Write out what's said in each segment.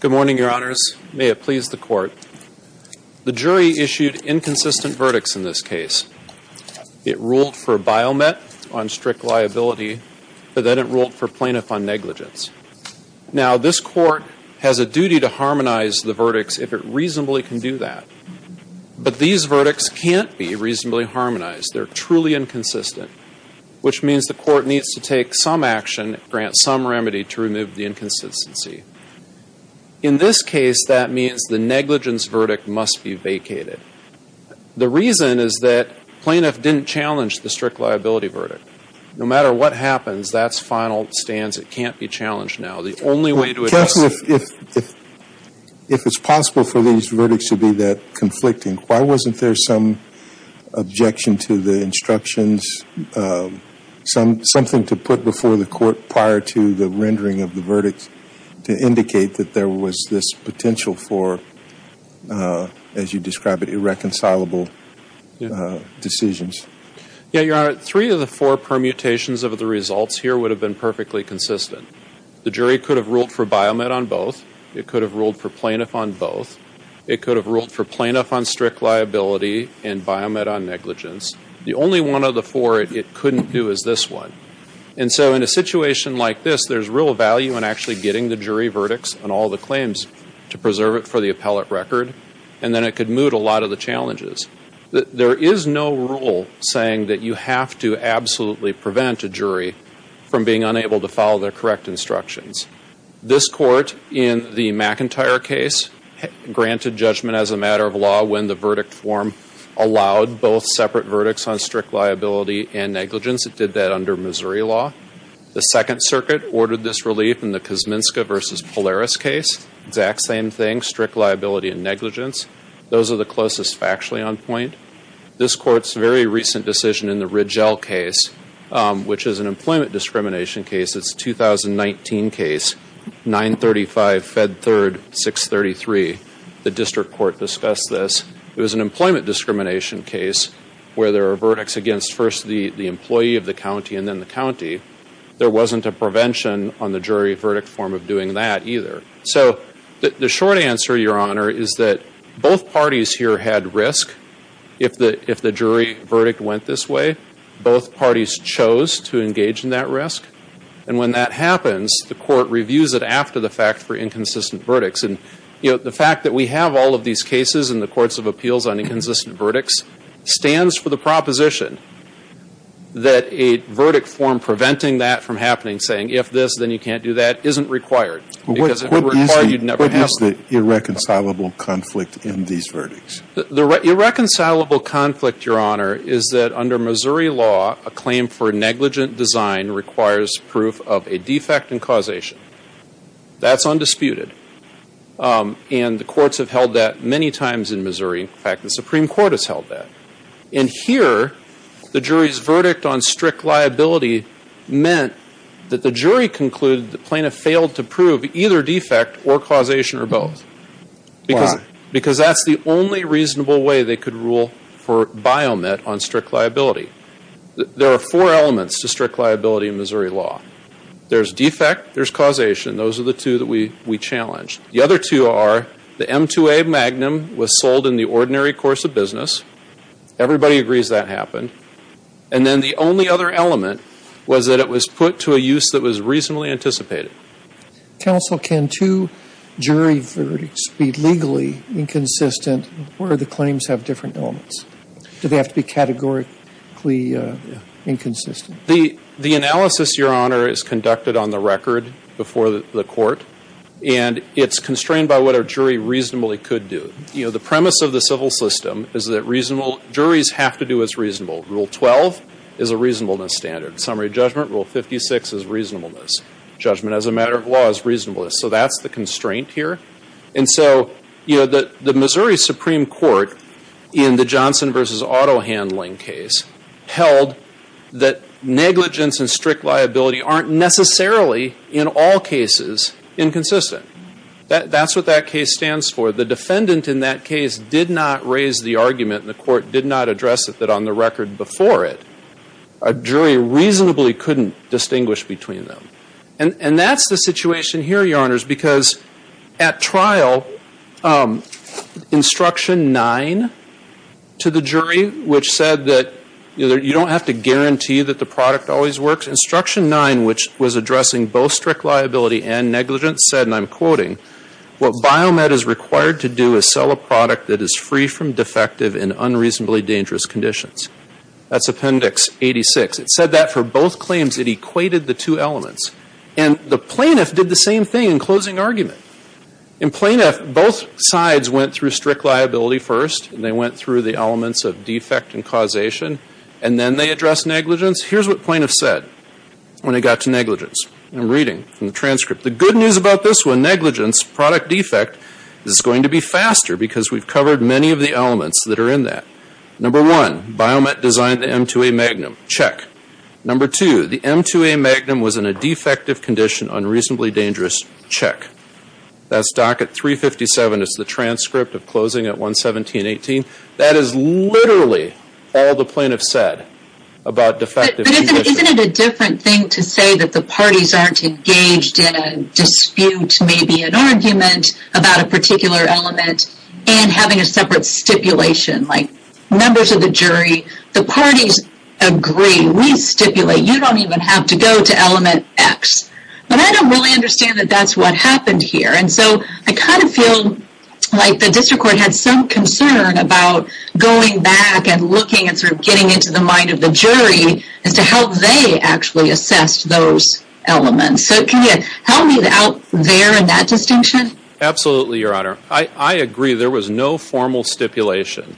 Good morning, Your Honors. May it please the Court. The jury issued inconsistent verdicts in this case. It ruled for Biomet on strict liability, but then it ruled for Plaintiff on negligence. Now, this Court has a duty to harmonize the verdicts if it reasonably can do that. But these verdicts can't be reasonably harmonized. They're truly inconsistent, which means the Court needs to take some action, grant some remedy to remove the inconsistency. In this case, that means the negligence verdict must be vacated. The reason is that Plaintiff didn't challenge the strict liability verdict. No matter what happens, that's final stance. It can't be challenged now. The only way to address it— If it's possible for these verdicts to be that conflicting, why wasn't there some objection to the instructions, something to put before the Court prior to the rendering of the verdicts to indicate that there was this potential for, as you describe it, irreconcilable decisions? Yeah, Your Honor, three of the four permutations of the results here would have been perfectly consistent. The jury could have ruled for Biomet on both. It could have ruled for Plaintiff on both. It could have ruled for Plaintiff on strict liability and Biomet on negligence. The only one of the four it couldn't do is this one. And so in a situation like this, there's real value in actually getting the jury verdicts and all the claims to preserve it for the appellate record. And then it could move a lot of the challenges. There is no rule saying that you have to absolutely prevent a jury from being unable to follow their correct instructions. This Court in the McIntyre case granted judgment as a matter of law when the verdict form allowed both separate verdicts on strict liability and negligence. It did that under Missouri law. The Second Circuit ordered this relief in the Kosminska v. Polaris case. Exact same thing, strict liability and negligence. Those are the closest factually on point. This Court's very recent decision in the Rigel case, which is an employment discrimination case, it's a 2019 case, 935 Fed Third 633. The District Court discussed this. It was an employment discrimination case where there are verdicts against first the employee of the county and then the county. There wasn't a prevention on the jury verdict form of doing that either. So the short answer, Your Honor, is that both parties here had risk. If the jury verdict went this way, both parties chose to engage in that risk. And when that happens, the Court reviews it after the fact for inconsistent verdicts. And, you know, the fact that we have all of these cases in the Courts of Appeals on inconsistent verdicts stands for the proposition that a verdict form preventing that from happening, saying if this, then you can't do that, isn't required. Because if it were required, you'd never have one. What is the irreconcilable conflict in these verdicts? The irreconcilable conflict, Your Honor, is that under Missouri law, a claim for negligent design requires proof of a defect and causation. That's undisputed. And the courts have held that many times in Missouri. In fact, the Supreme Court has held that. And here, the jury's verdict on strict liability meant that the jury concluded the plaintiff failed to prove either defect or causation or both. Why? Because that's the only reasonable way they could rule for biomet on strict liability. There are four elements to strict liability in Missouri law. There's defect, there's causation. Those are the two that we challenge. The other two are the M2A magnum was sold in the ordinary course of business. Everybody agrees that happened. And then the only other element was that it was put to a use that was reasonably anticipated. Counsel, can two jury verdicts be legally inconsistent where the claims have different elements? Do they have to be categorically inconsistent? The analysis, Your Honor, is conducted on the record before the court. And it's constrained by what a jury reasonably could do. You know, the premise of the civil system is that reasonable, juries have to do what's reasonable. Rule 12 is a reasonableness standard. Summary of judgment, Rule 56 is reasonableness. Judgment as a matter of law is reasonableness. So that's the constraint here. And so, you know, the Missouri Supreme Court, in the Johnson v. Auto Handling case, held that negligence and strict liability aren't necessarily, in all cases, inconsistent. That's what that case stands for. The defendant in that case did not raise the argument, and the court did not address it, on the record before it. A jury reasonably couldn't distinguish between them. And that's the situation here, Your Honors, because at trial, Instruction 9 to the jury, which said that you don't have to guarantee that the product always works, Instruction 9, which was addressing both strict liability and negligence, said, and I'm quoting, what Biomed is required to do is sell a product that is free from defective in unreasonably dangerous conditions. That's Appendix 86. It said that for both claims. It equated the two elements. And the plaintiff did the same thing in closing argument. In plaintiff, both sides went through strict liability first, and they went through the elements of defect and causation, and then they addressed negligence. Here's what plaintiff said when it got to negligence. I'm reading from the transcript. The good news about this one, negligence, product defect, is it's going to be faster because we've covered many of the elements that are in that. Number one, Biomed designed the M2A Magnum. Check. Number two, the M2A Magnum was in a defective condition, unreasonably dangerous. Check. That's docket 357. It's the transcript of closing at 11718. That is literally all the plaintiff said about defective condition. But isn't it a different thing to say that the parties aren't engaged in a dispute, maybe an argument about a particular element, and having a separate stipulation? Like members of the jury, the parties agree. We stipulate. You don't even have to go to element X. But I don't really understand that that's what happened here. And so I kind of feel like the district court had some concern about going back and looking and sort of getting into the mind of the jury as to how they actually assessed those elements. So can you help me out there in that distinction? Absolutely, Your Honor. I agree. There was no formal stipulation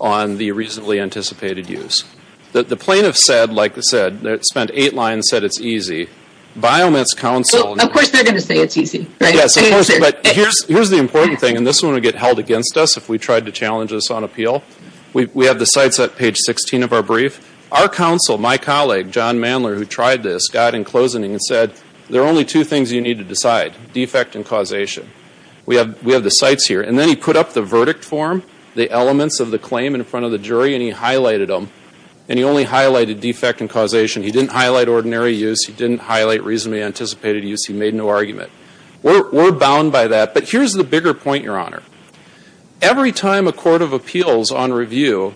on the reasonably anticipated use. The plaintiff said, like I said, spent eight lines and said it's easy. Biomed's counsel. Well, of course they're going to say it's easy, right? Yes, of course. But here's the important thing, and this one would get held against us if we tried to challenge this on appeal. We have the cites at page 16 of our brief. Our counsel, my colleague, John Manler, who tried this, got in closing and said, there are only two things you need to decide, defect and causation. We have the cites here. And then he put up the verdict form, the elements of the claim in front of the jury, and he highlighted them. And he only highlighted defect and causation. He didn't highlight ordinary use. He didn't highlight reasonably anticipated use. He made no argument. We're bound by that. But here's the bigger point, Your Honor. Every time a court of appeals on review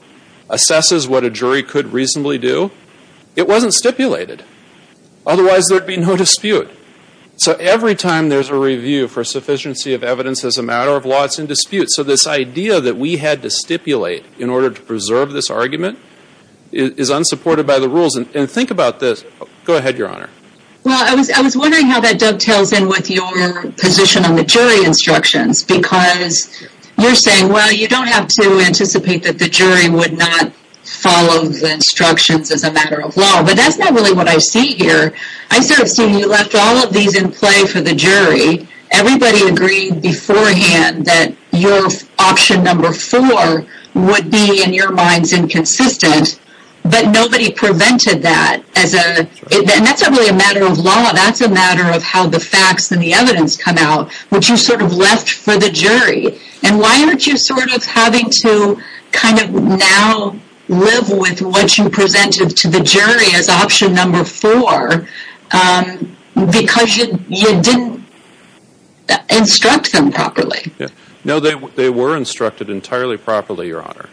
assesses what a jury could reasonably do, it wasn't stipulated. Otherwise, there'd be no dispute. So every time there's a review for sufficiency of evidence as a matter of law, it's in dispute. So this idea that we had to stipulate in order to preserve this argument is unsupported by the rules. And think about this. Go ahead, Your Honor. Well, I was wondering how that dovetails in with your position on the jury instructions. Because you're saying, well, you don't have to anticipate that the jury would not follow the instructions as a matter of law. But that's not really what I see here. I sort of see you left all of these in play for the jury. Everybody agreed beforehand that your option number four would be, in your minds, inconsistent. But nobody prevented that. And that's not really a matter of law. That's a matter of how the facts and the evidence come out, which you sort of left for the jury. And why aren't you sort of having to kind of now live with what you presented to the jury as option number four? Because you didn't instruct them properly. No, they were instructed entirely properly, Your Honor.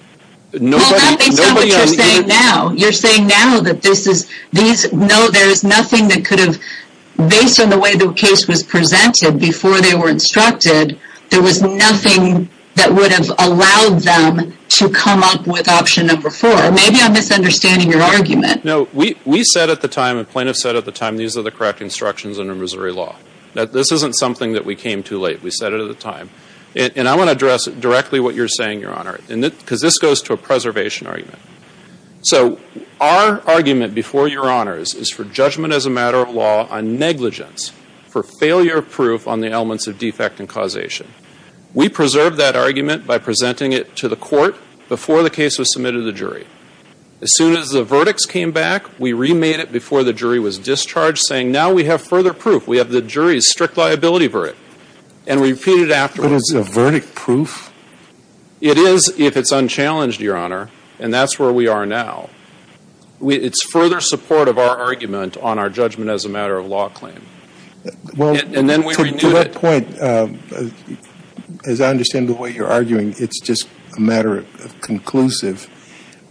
Well, that's not what you're saying now. You're saying now that there is nothing that could have, based on the way the case was presented before they were instructed, there was nothing that would have allowed them to come up with option number four. Maybe I'm misunderstanding your argument. No. We said at the time, and plaintiffs said at the time, these are the correct instructions under Missouri law. This isn't something that we came too late. We said it at the time. And I want to address directly what you're saying, Your Honor. Because this goes to a preservation argument. So our argument before Your Honors is for judgment as a matter of law on negligence for failure of proof on the elements of defect and causation. We preserved that argument by presenting it to the court before the case was submitted to the jury. As soon as the verdicts came back, we remade it before the jury was discharged, saying now we have further proof. We have the jury's strict liability for it. And we repeated it afterwards. But is the verdict proof? It is if it's unchallenged, Your Honor. And that's where we are now. It's further support of our argument on our judgment as a matter of law claim. And then we renewed it. To that point, as I understand the way you're arguing, it's just a matter of conclusive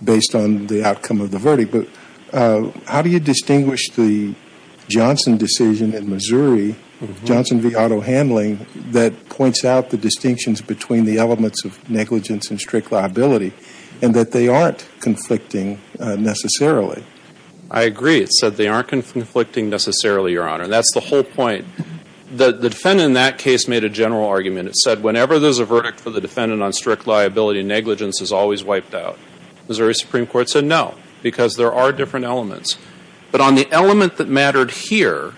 based on the outcome of the verdict. Okay. But how do you distinguish the Johnson decision in Missouri, Johnson v. Auto Handling, that points out the distinctions between the elements of negligence and strict liability and that they aren't conflicting necessarily? I agree. It said they aren't conflicting necessarily, Your Honor. And that's the whole point. The defendant in that case made a general argument. It said whenever there's a verdict for the defendant on strict liability, negligence is always wiped out. Missouri Supreme Court said no, because there are different elements. But on the element that mattered here,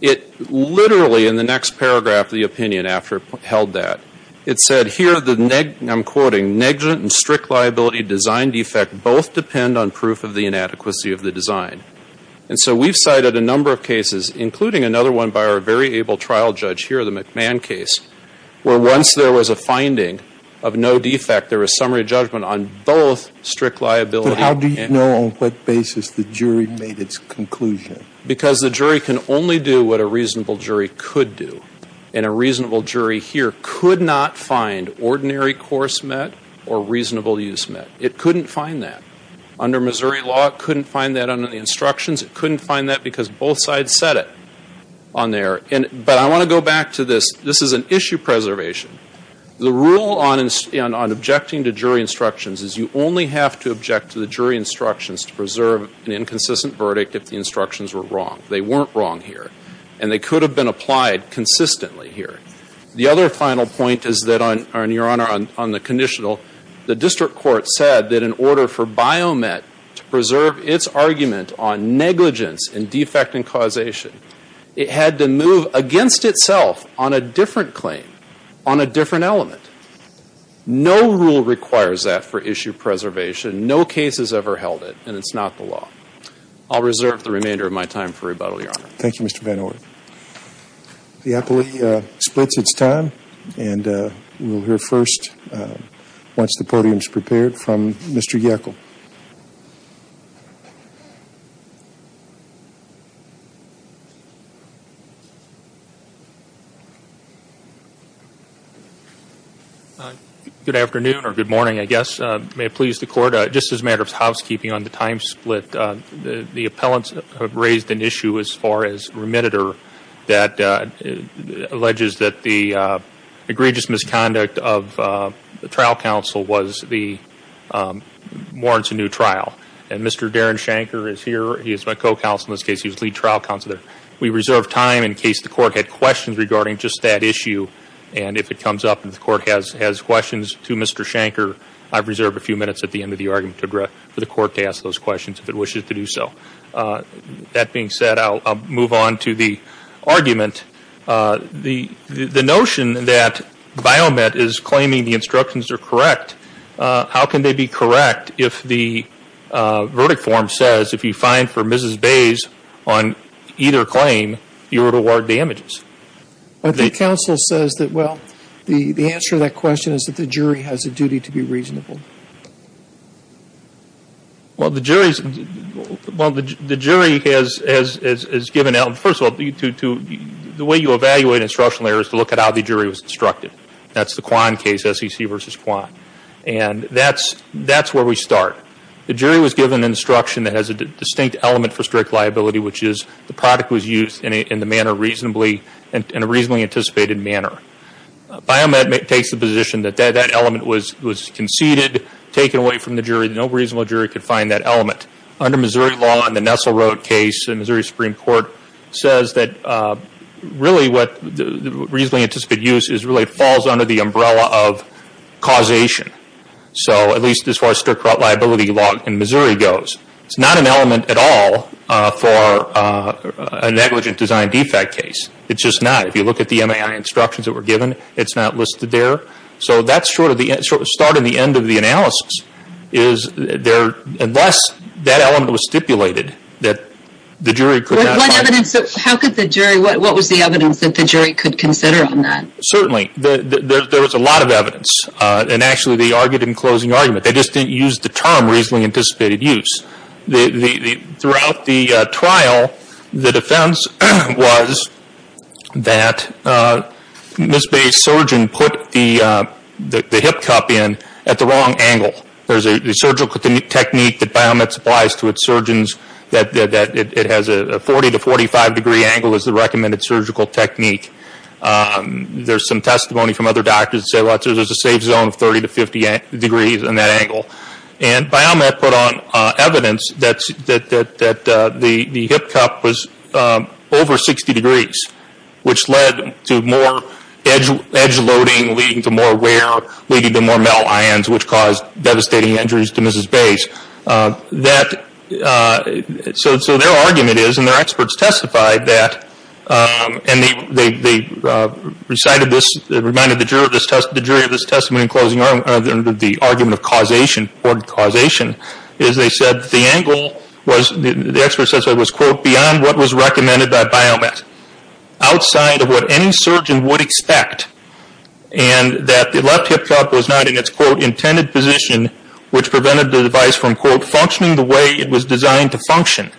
it literally in the next paragraph of the opinion after it held that, it said here the, I'm quoting, negligent and strict liability design defect both depend on proof of the inadequacy of the design. And so we've cited a number of cases, including another one by our very able trial judge here, the McMahon case, where once there was a finding of no defect, there was summary judgment on both strict liability. But how do you know on what basis the jury made its conclusion? Because the jury can only do what a reasonable jury could do. And a reasonable jury here could not find ordinary course met or reasonable use met. It couldn't find that. Under Missouri law, it couldn't find that under the instructions. It couldn't find that because both sides said it on there. But I want to go back to this. This is an issue preservation. The rule on objecting to jury instructions is you only have to object to the jury instructions to preserve an inconsistent verdict if the instructions were wrong. They weren't wrong here. And they could have been applied consistently here. The other final point is that on, Your Honor, on the conditional, the district court said that in order for Biomet to preserve its argument on negligence and defect and causation, it had to move against itself on a different claim, on a different element. No rule requires that for issue preservation. No case has ever held it. And it's not the law. I'll reserve the remainder of my time for rebuttal, Your Honor. Thank you, Mr. Van Orn. The appellee splits its time. And we'll hear first, once the podium is prepared, from Mr. Yackel. Good afternoon, or good morning, I guess. May it please the Court, just as a matter of housekeeping on the time split, the appellants have raised an issue as far as remitter that alleges that the egregious misconduct of the trial counsel warrants a new trial. And Mr. Darren Shanker is here. He is my co-counsel in this case. He was lead trial counsel there. We reserve time in case the Court had questions regarding just that issue. And if it comes up and the Court has questions to Mr. Shanker, I reserve a few minutes at the end of the argument for the Court to ask those questions, if it wishes to do so. That being said, I'll move on to the argument. The notion that Biomet is claiming the instructions are correct, how can they be correct if the verdict form says if you find for Mrs. Bays on either claim, you are to award damages? I think counsel says that, well, the answer to that question is that the jury has a duty to be reasonable. Well, the jury has given out, first of all, the way you evaluate an instructional error is to look at how the jury was instructed. That's the Kwan case, SEC versus Kwan. And that's where we start. The jury was given instruction that has a distinct element for strict liability, which is the product was used in a reasonably anticipated manner. Biomet takes the position that that element was conceded, taken away from the jury. No reasonable jury could find that element. Under Missouri law in the Nestle Road case, the Missouri Supreme Court says that really what reasonably anticipated use really falls under the umbrella of causation, at least as far as strict liability law in Missouri goes. It's not an element at all for a negligent design defect case. It's just not. If you look at the MAI instructions that were given, it's not listed there. So that's sort of the start and the end of the analysis is unless that element was stipulated that the jury could not find it. What was the evidence that the jury could consider on that? Certainly. There was a lot of evidence. And actually, they argued in closing argument. They just didn't use the term reasonably anticipated use. Throughout the trial, the defense was that Ms. Bay's surgeon put the hip cup in at the wrong angle. There's a surgical technique that Biomet supplies to its surgeons that it has a 40 to 45 degree angle as the recommended surgical technique. There's some testimony from other doctors that say there's a safe zone of 30 to 50 degrees in that angle. And Biomet put on evidence that the hip cup was over 60 degrees, which led to more edge loading, leading to more wear, leading to more metal ions, which caused devastating injuries to Ms. Bay's. So their argument is, and their experts testified that, and they recited this, reminded the jury of this testimony in closing argument, the argument of causation, important causation, is they said the angle was, the experts said it was, quote, beyond what was recommended by Biomet. Outside of what any surgeon would expect. And that the left hip cup was not in its, quote, intended position, which prevented the device from, quote, functioning the way it was designed to function.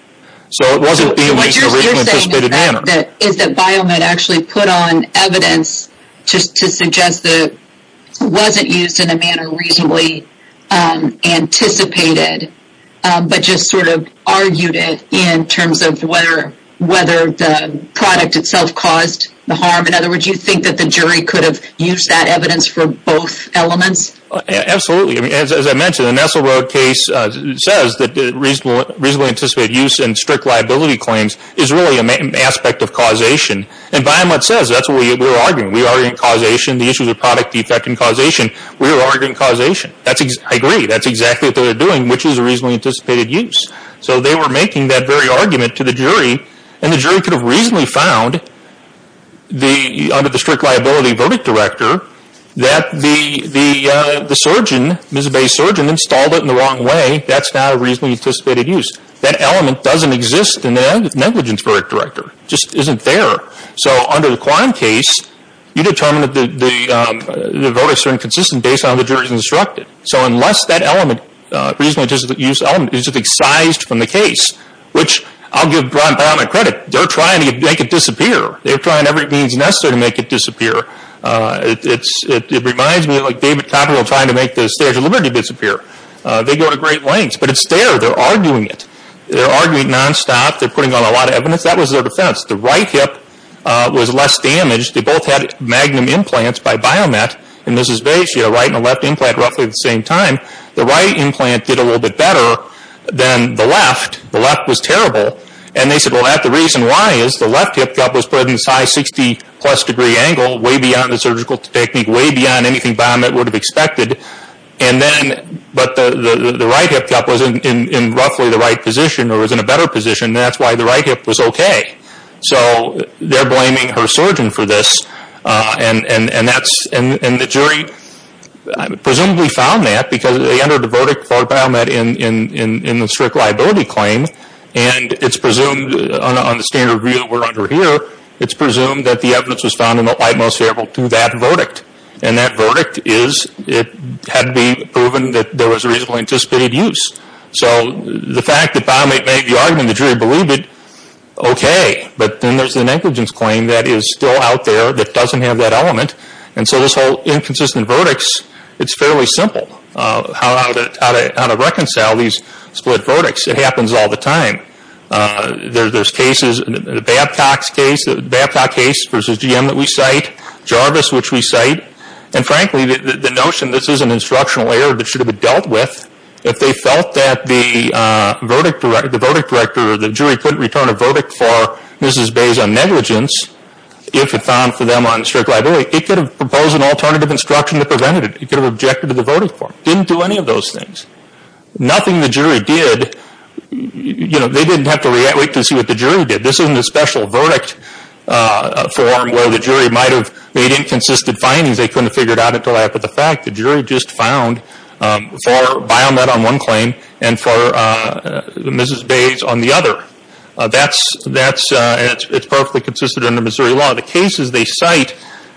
So it wasn't being used in a reasonably anticipated manner. What you're saying is that Biomet actually put on evidence to suggest that it wasn't used in a manner reasonably anticipated, but just sort of argued it in terms of whether the product itself caused the harm. In other words, you think that the jury could have used that evidence for both elements? Absolutely. As I mentioned, the Nassau Road case says that reasonably anticipated use and strict liability claims is really an aspect of causation. And Biomet says that's what we were arguing. We were arguing causation, the issues of product defect and causation. We were arguing causation. I agree. That's exactly what they were doing, which is a reasonably anticipated use. So they were making that very argument to the jury, and the jury could have reasonably found under the strict liability verdict director that the surgeon, Ms. Bay's surgeon, installed it in the wrong way. That's not a reasonably anticipated use. That element doesn't exist in the negligence verdict director. It just isn't there. So under the Kwan case, you determine that the verdicts are inconsistent based on how the jury's instructed. So unless that element, reasonably anticipated use element, is excised from the case, which I'll give Ron Biomet credit. They're trying to make it disappear. They're trying every means necessary to make it disappear. It reminds me of David Copperfield trying to make the Stairs of Liberty disappear. They go to great lengths. But it's there. They're arguing it. They're arguing nonstop. They're putting on a lot of evidence. That was their defense. The right hip was less damaged. They both had magnum implants by Biomet and Ms. Bay. She had a right and a left implant roughly at the same time. The right implant did a little bit better than the left. The left was terrible. And they said, well, the reason why is the left hip cup was put in a size 60-plus degree angle, way beyond the surgical technique, way beyond anything Biomet would have expected. But the right hip cup was in roughly the right position or was in a better position. That's why the right hip was okay. So they're blaming her surgeon for this. And the jury presumably found that because they entered a verdict for Biomet in the strict liability claim. And it's presumed, on the standard view that we're under here, it's presumed that the evidence was found in the light most favorable to that verdict. And that verdict is it had to be proven that there was a reasonably anticipated use. So the fact that Biomet made the argument and the jury believed it, okay. But then there's the negligence claim that is still out there that doesn't have that element. And so this whole inconsistent verdicts, it's fairly simple. How to reconcile these split verdicts. It happens all the time. There's cases, Babcock's case, Babcock case versus GM that we cite, Jarvis, which we cite. And frankly, the notion, this is an instructional error that should have been dealt with. If they felt that the verdict director or the jury couldn't return a verdict for Mrs. Bay's on negligence, if it found for them on strict liability, it could have proposed an alternative instruction to prevent it. It could have objected to the verdict form. Didn't do any of those things. Nothing the jury did, you know, they didn't have to wait to see what the jury did. This isn't a special verdict form where the jury might have made inconsistent findings. They couldn't have figured it out until after the fact. The jury just found for Biomet on one claim and for Mrs. Bay's on the other. That's, it's perfectly consistent under Missouri law. The cases they cite,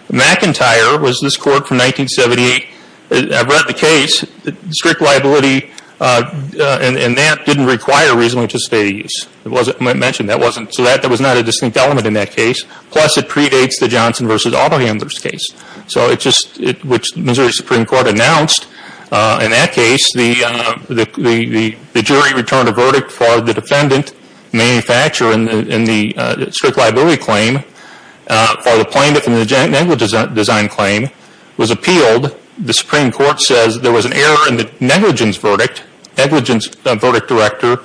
McIntyre was this court from 1978. I've read the case. Strict liability, and that didn't require reasonableness to state a use. It wasn't mentioned. That wasn't, so that was not a distinct element in that case. Plus, it predates the Johnson versus Auto Handlers case. So, it just, which Missouri Supreme Court announced. In that case, the jury returned a verdict for the defendant, manufacturer in the strict liability claim, for the plaintiff in the negligent design claim, was appealed. The Supreme Court says there was an error in the negligence verdict, negligence verdict director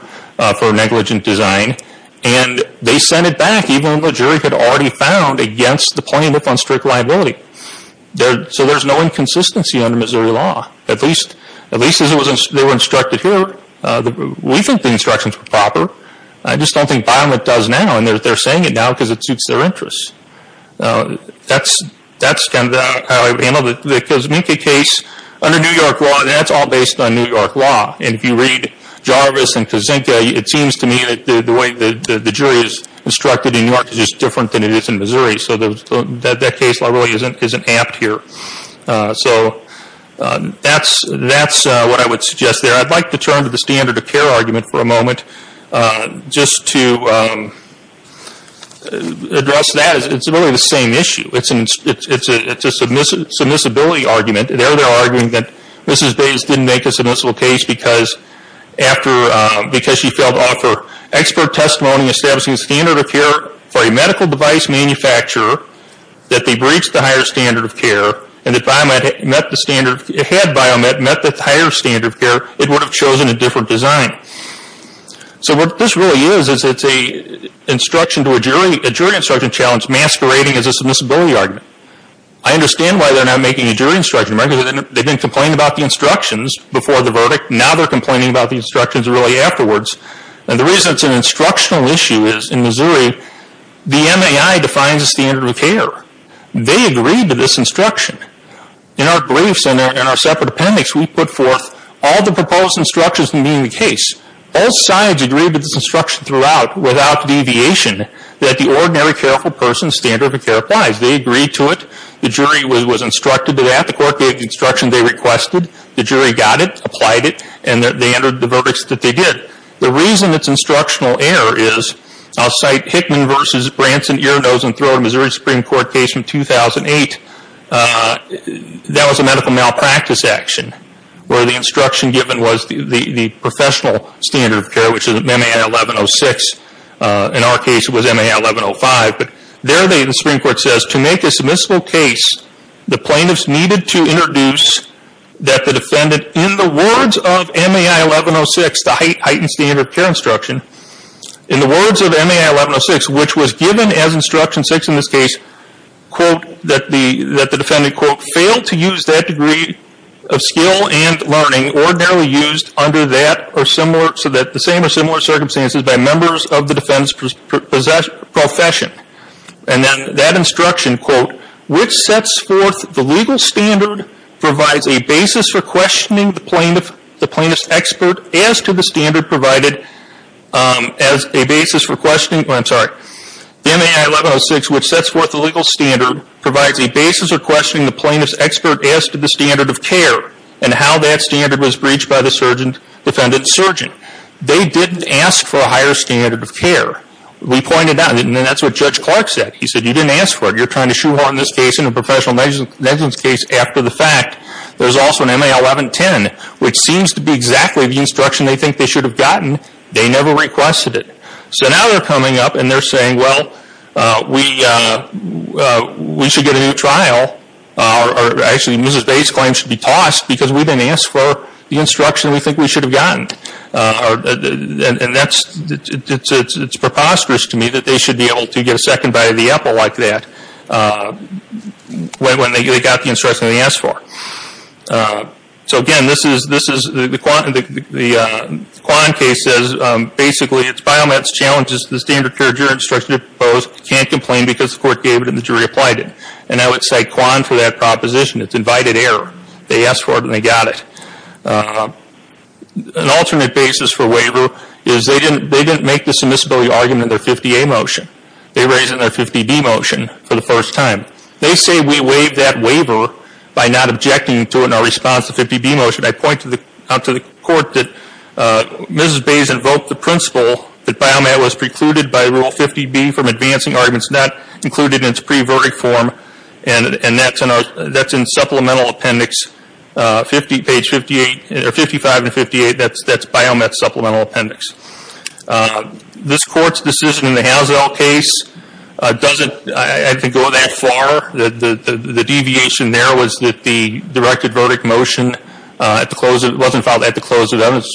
for negligent design, and they sent it back even when the jury had already found against the plaintiff on strict liability. So, there's no inconsistency under Missouri law. At least, at least as they were instructed here. We think the instructions were proper. I just don't think Biomet does now, and they're saying it now because it suits their interests. That's, that's kind of how I would handle the Kozminka case. Under New York law, that's all based on New York law. And if you read Jarvis and Kozminka, it seems to me that the way the jury is instructed in New York is just different than it is in Missouri. So, that case law really isn't amped here. So, that's what I would suggest there. I'd like to turn to the standard of care argument for a moment. Just to address that, it's really the same issue. It's a submissibility argument. They're arguing that Mrs. Bates didn't make a submissible case because after, because she failed to offer expert testimony establishing a standard of care for a medical device manufacturer that they breached the higher standard of care. And if Biomet met the standard, had Biomet met the higher standard of care, it would have chosen a different design. So, what this really is, is it's a instruction to a jury, a jury instruction challenge masquerading as a submissibility argument. I understand why they're not making a jury instruction, right? Because they've been complaining about the instructions before the verdict. Now they're complaining about the instructions really afterwards. And the reason it's an instructional issue is, in Missouri, the MAI defines a standard of care. They agreed to this instruction. In our briefs and in our separate appendix, we put forth all the proposed instructions from being the case. All sides agreed to this instruction throughout without deviation that the ordinary careful person's standard of care applies. They agreed to it. The jury was instructed to that. The court gave the instruction they requested. The jury got it, applied it, and they entered the verdicts that they did. The reason it's instructional error is, I'll cite Hickman v. Branson Ear, Nose, and Throat, a Missouri Supreme Court case from 2008. That was a medical malpractice action where the instruction given was the professional standard of care, which is MAI 1106. In our case, it was MAI 1105. There, the Supreme Court says, to make a submissible case, the plaintiffs needed to introduce that the defendant, in the words of MAI 1106, the heightened standard of care instruction, in the words of MAI 1106, which was given as instruction six in this case, that the defendant, quote, failed to use that degree of skill and learning ordinarily used under that or similar, circumstances by members of the defendant's profession. And then that instruction, quote, which sets forth the legal standard, provides a basis for questioning the plaintiff's expert as to the standard provided as a basis for questioning, I'm sorry, MAI 1106, which sets forth the legal standard, provides a basis for questioning the plaintiff's expert as to the standard of care and how that standard was breached by the defendant's surgeon. They didn't ask for a higher standard of care. We pointed out, and that's what Judge Clark said. He said, you didn't ask for it. You're trying to shoehorn this case into a professional negligence case after the fact. There's also an MAI 1110, which seems to be exactly the instruction they think they should have gotten. They never requested it. So now they're coming up and they're saying, well, we should get a new trial. Actually, Mrs. Bates' claim should be tossed because we didn't ask for the instruction we think we should have gotten. And that's, it's preposterous to me that they should be able to get a second bite of the apple like that when they got the instruction they asked for. So, again, this is, the Kwan case says, basically, it's Biomed's challenge is the standard of care the jury instructed to propose can't complain because the court gave it and the jury applied it. And I would cite Kwan for that proposition. It's invited error. They asked for it and they got it. An alternate basis for waiver is they didn't make the submissibility argument in their 50A motion. They raised it in their 50B motion for the first time. They say we waived that waiver by not objecting to it in our response to the 50B motion. I point out to the court that Mrs. Bates invoked the principle that Biomed was precluded by Rule 50B from advancing arguments and that's not included in its pre-verdict form and that's in supplemental appendix page 55 and 58. That's Biomed's supplemental appendix. This court's decision in the Hazell case doesn't, I think, go that far. The deviation there was that the directed verdict motion wasn't filed at the close of evidence.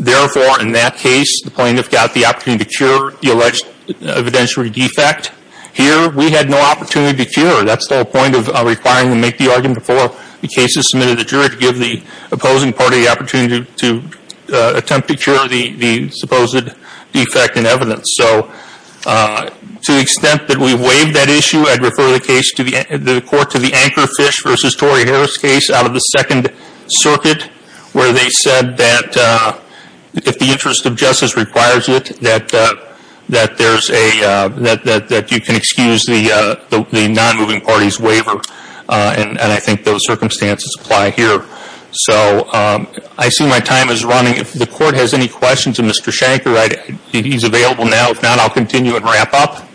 Therefore, in that case, the plaintiff got the opportunity to cure the alleged evidentiary defect. Here, we had no opportunity to cure. That's the whole point of requiring them to make the argument before the case is submitted to the jury to give the opposing party the opportunity to attempt to cure the supposed defect in evidence. So to the extent that we waived that issue, I'd refer the court to the Anchor Fish v. Tory Harris case out of the Second Circuit where they said that if the interest of justice requires it, that you can excuse the non-moving party's waiver, and I think those circumstances apply here. So I see my time is running. If the court has any questions of Mr. Shanker, he's available now. If not, I'll continue and wrap up.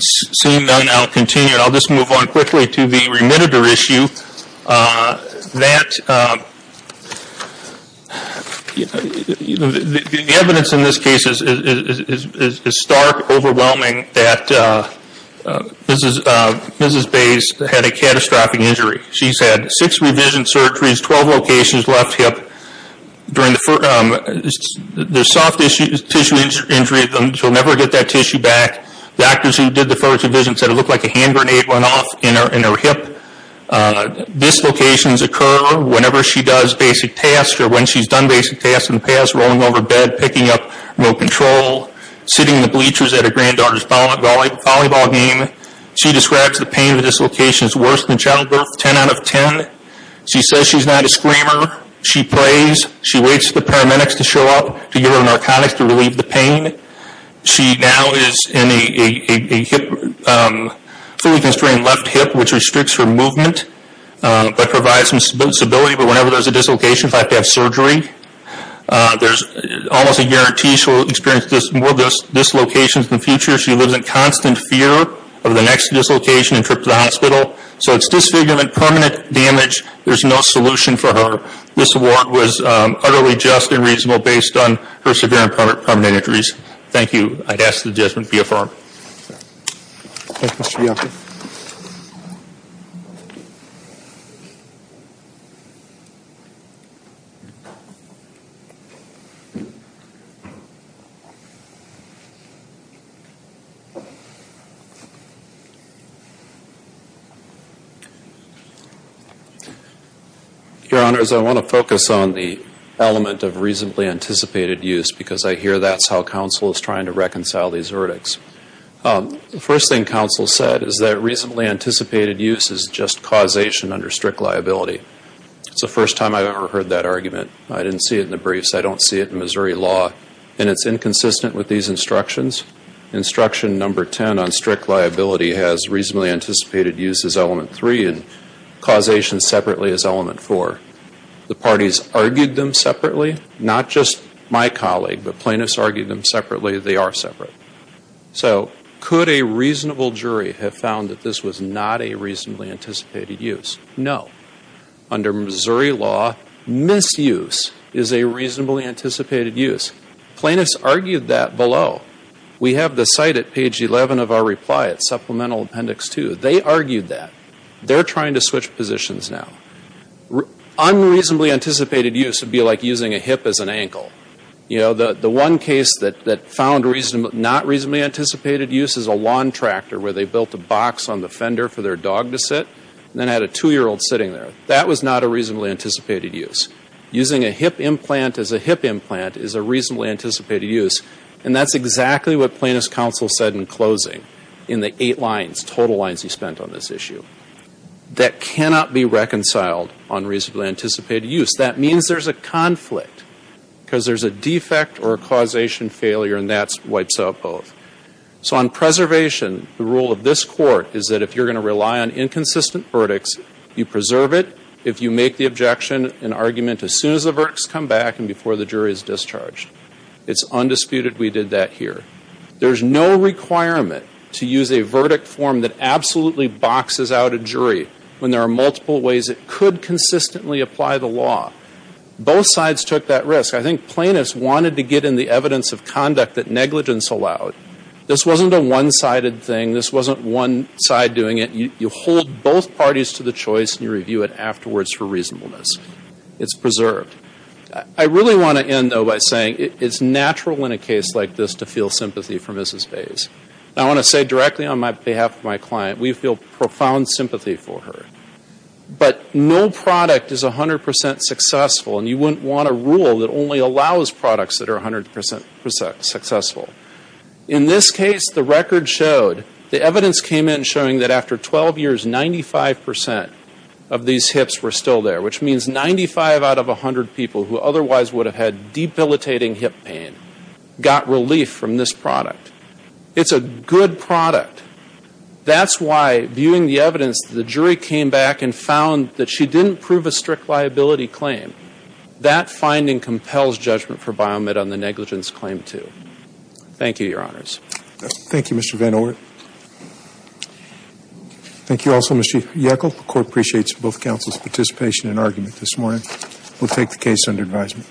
Seeing none, I'll continue. I'll just move on quickly to the remitter issue. The evidence in this case is stark, overwhelming, that Mrs. Bays had a catastrophic injury. She's had six revision surgeries, 12 locations, left hip. There's soft tissue injury. She'll never get that tissue back. The doctors who did the first revision said it looked like a hand grenade went off in her hip. Dislocations occur whenever she does basic tasks or when she's done basic tasks in the past, rolling over bed, picking up remote control, sitting in the bleachers at her granddaughter's volleyball game. She describes the pain of dislocations worse than childbirth, 10 out of 10. She says she's not a screamer. She prays. She waits for the paramedics to show up to give her narcotics to relieve the pain. She now is in a fully constrained left hip, which restricts her movement but provides some stability. But whenever there's a dislocation, if I have to have surgery, there's almost a guarantee she'll experience more dislocations in the future. She lives in constant fear of the next dislocation and trip to the hospital. So it's disfigurement, permanent damage. There's no solution for her. This award was utterly just and reasonable based on her severe and permanent injuries. Thank you. I'd ask that the judgment be affirmed. Thank you, Mr. Bianchi. Your Honors, I want to focus on the element of reasonably anticipated use because I hear that's how counsel is trying to reconcile these verdicts. The first thing counsel said is that reasonably anticipated use is just causation under strict liability. It's the first time I've ever heard that argument. I didn't see it in the briefs. I don't see it in Missouri law. And it's inconsistent with these instructions. Instruction number 10 on strict liability has reasonably anticipated use as element three and causation separately as element four. The parties argued them separately. Not just my colleague, but plaintiffs argued them separately. They are separate. So could a reasonable jury have found that this was not a reasonably anticipated use? No. Under Missouri law, misuse is a reasonably anticipated use. Plaintiffs argued that below. We have the site at page 11 of our reply at Supplemental Appendix 2. They argued that. They're trying to switch positions now. Unreasonably anticipated use would be like using a hip as an ankle. You know, the one case that found not reasonably anticipated use is a lawn tractor where they built a box on the fender for their dog to sit and then had a two-year-old sitting there. That was not a reasonably anticipated use. Using a hip implant as a hip implant is a reasonably anticipated use. And that's exactly what plaintiffs' counsel said in closing in the eight lines, total lines he spent on this issue. That cannot be reconciled on reasonably anticipated use. That means there's a conflict because there's a defect or a causation failure, and that wipes out both. So on preservation, the rule of this Court is that if you're going to rely on inconsistent verdicts, you preserve it. If you make the objection and argument as soon as the verdicts come back and before the jury is discharged. It's undisputed we did that here. There's no requirement to use a verdict form that absolutely boxes out a jury when there are multiple ways it could consistently apply the law. Both sides took that risk. I think plaintiffs wanted to get in the evidence of conduct that negligence allowed. This wasn't a one-sided thing. This wasn't one side doing it. You hold both parties to the choice, and you review it afterwards for reasonableness. It's preserved. I really want to end, though, by saying it's natural in a case like this to feel sympathy for Mrs. Bays. I want to say directly on behalf of my client, we feel profound sympathy for her. But no product is 100% successful, and you wouldn't want a rule that only allows products that are 100% successful. In this case, the record showed, the evidence came in showing that after 12 years, 95% of these hips were still there, which means 95 out of 100 people who otherwise would have had debilitating hip pain got relief from this product. It's a good product. That's why, viewing the evidence, the jury came back and found that she didn't prove a strict liability claim. That finding compels judgment for Biomed on the negligence claim, too. Thank you, Your Honors. Thank you, Mr. Van Oort. Thank you also, Mr. Yackel. The court appreciates both counsel's participation and argument this morning. We'll take the case under advisement.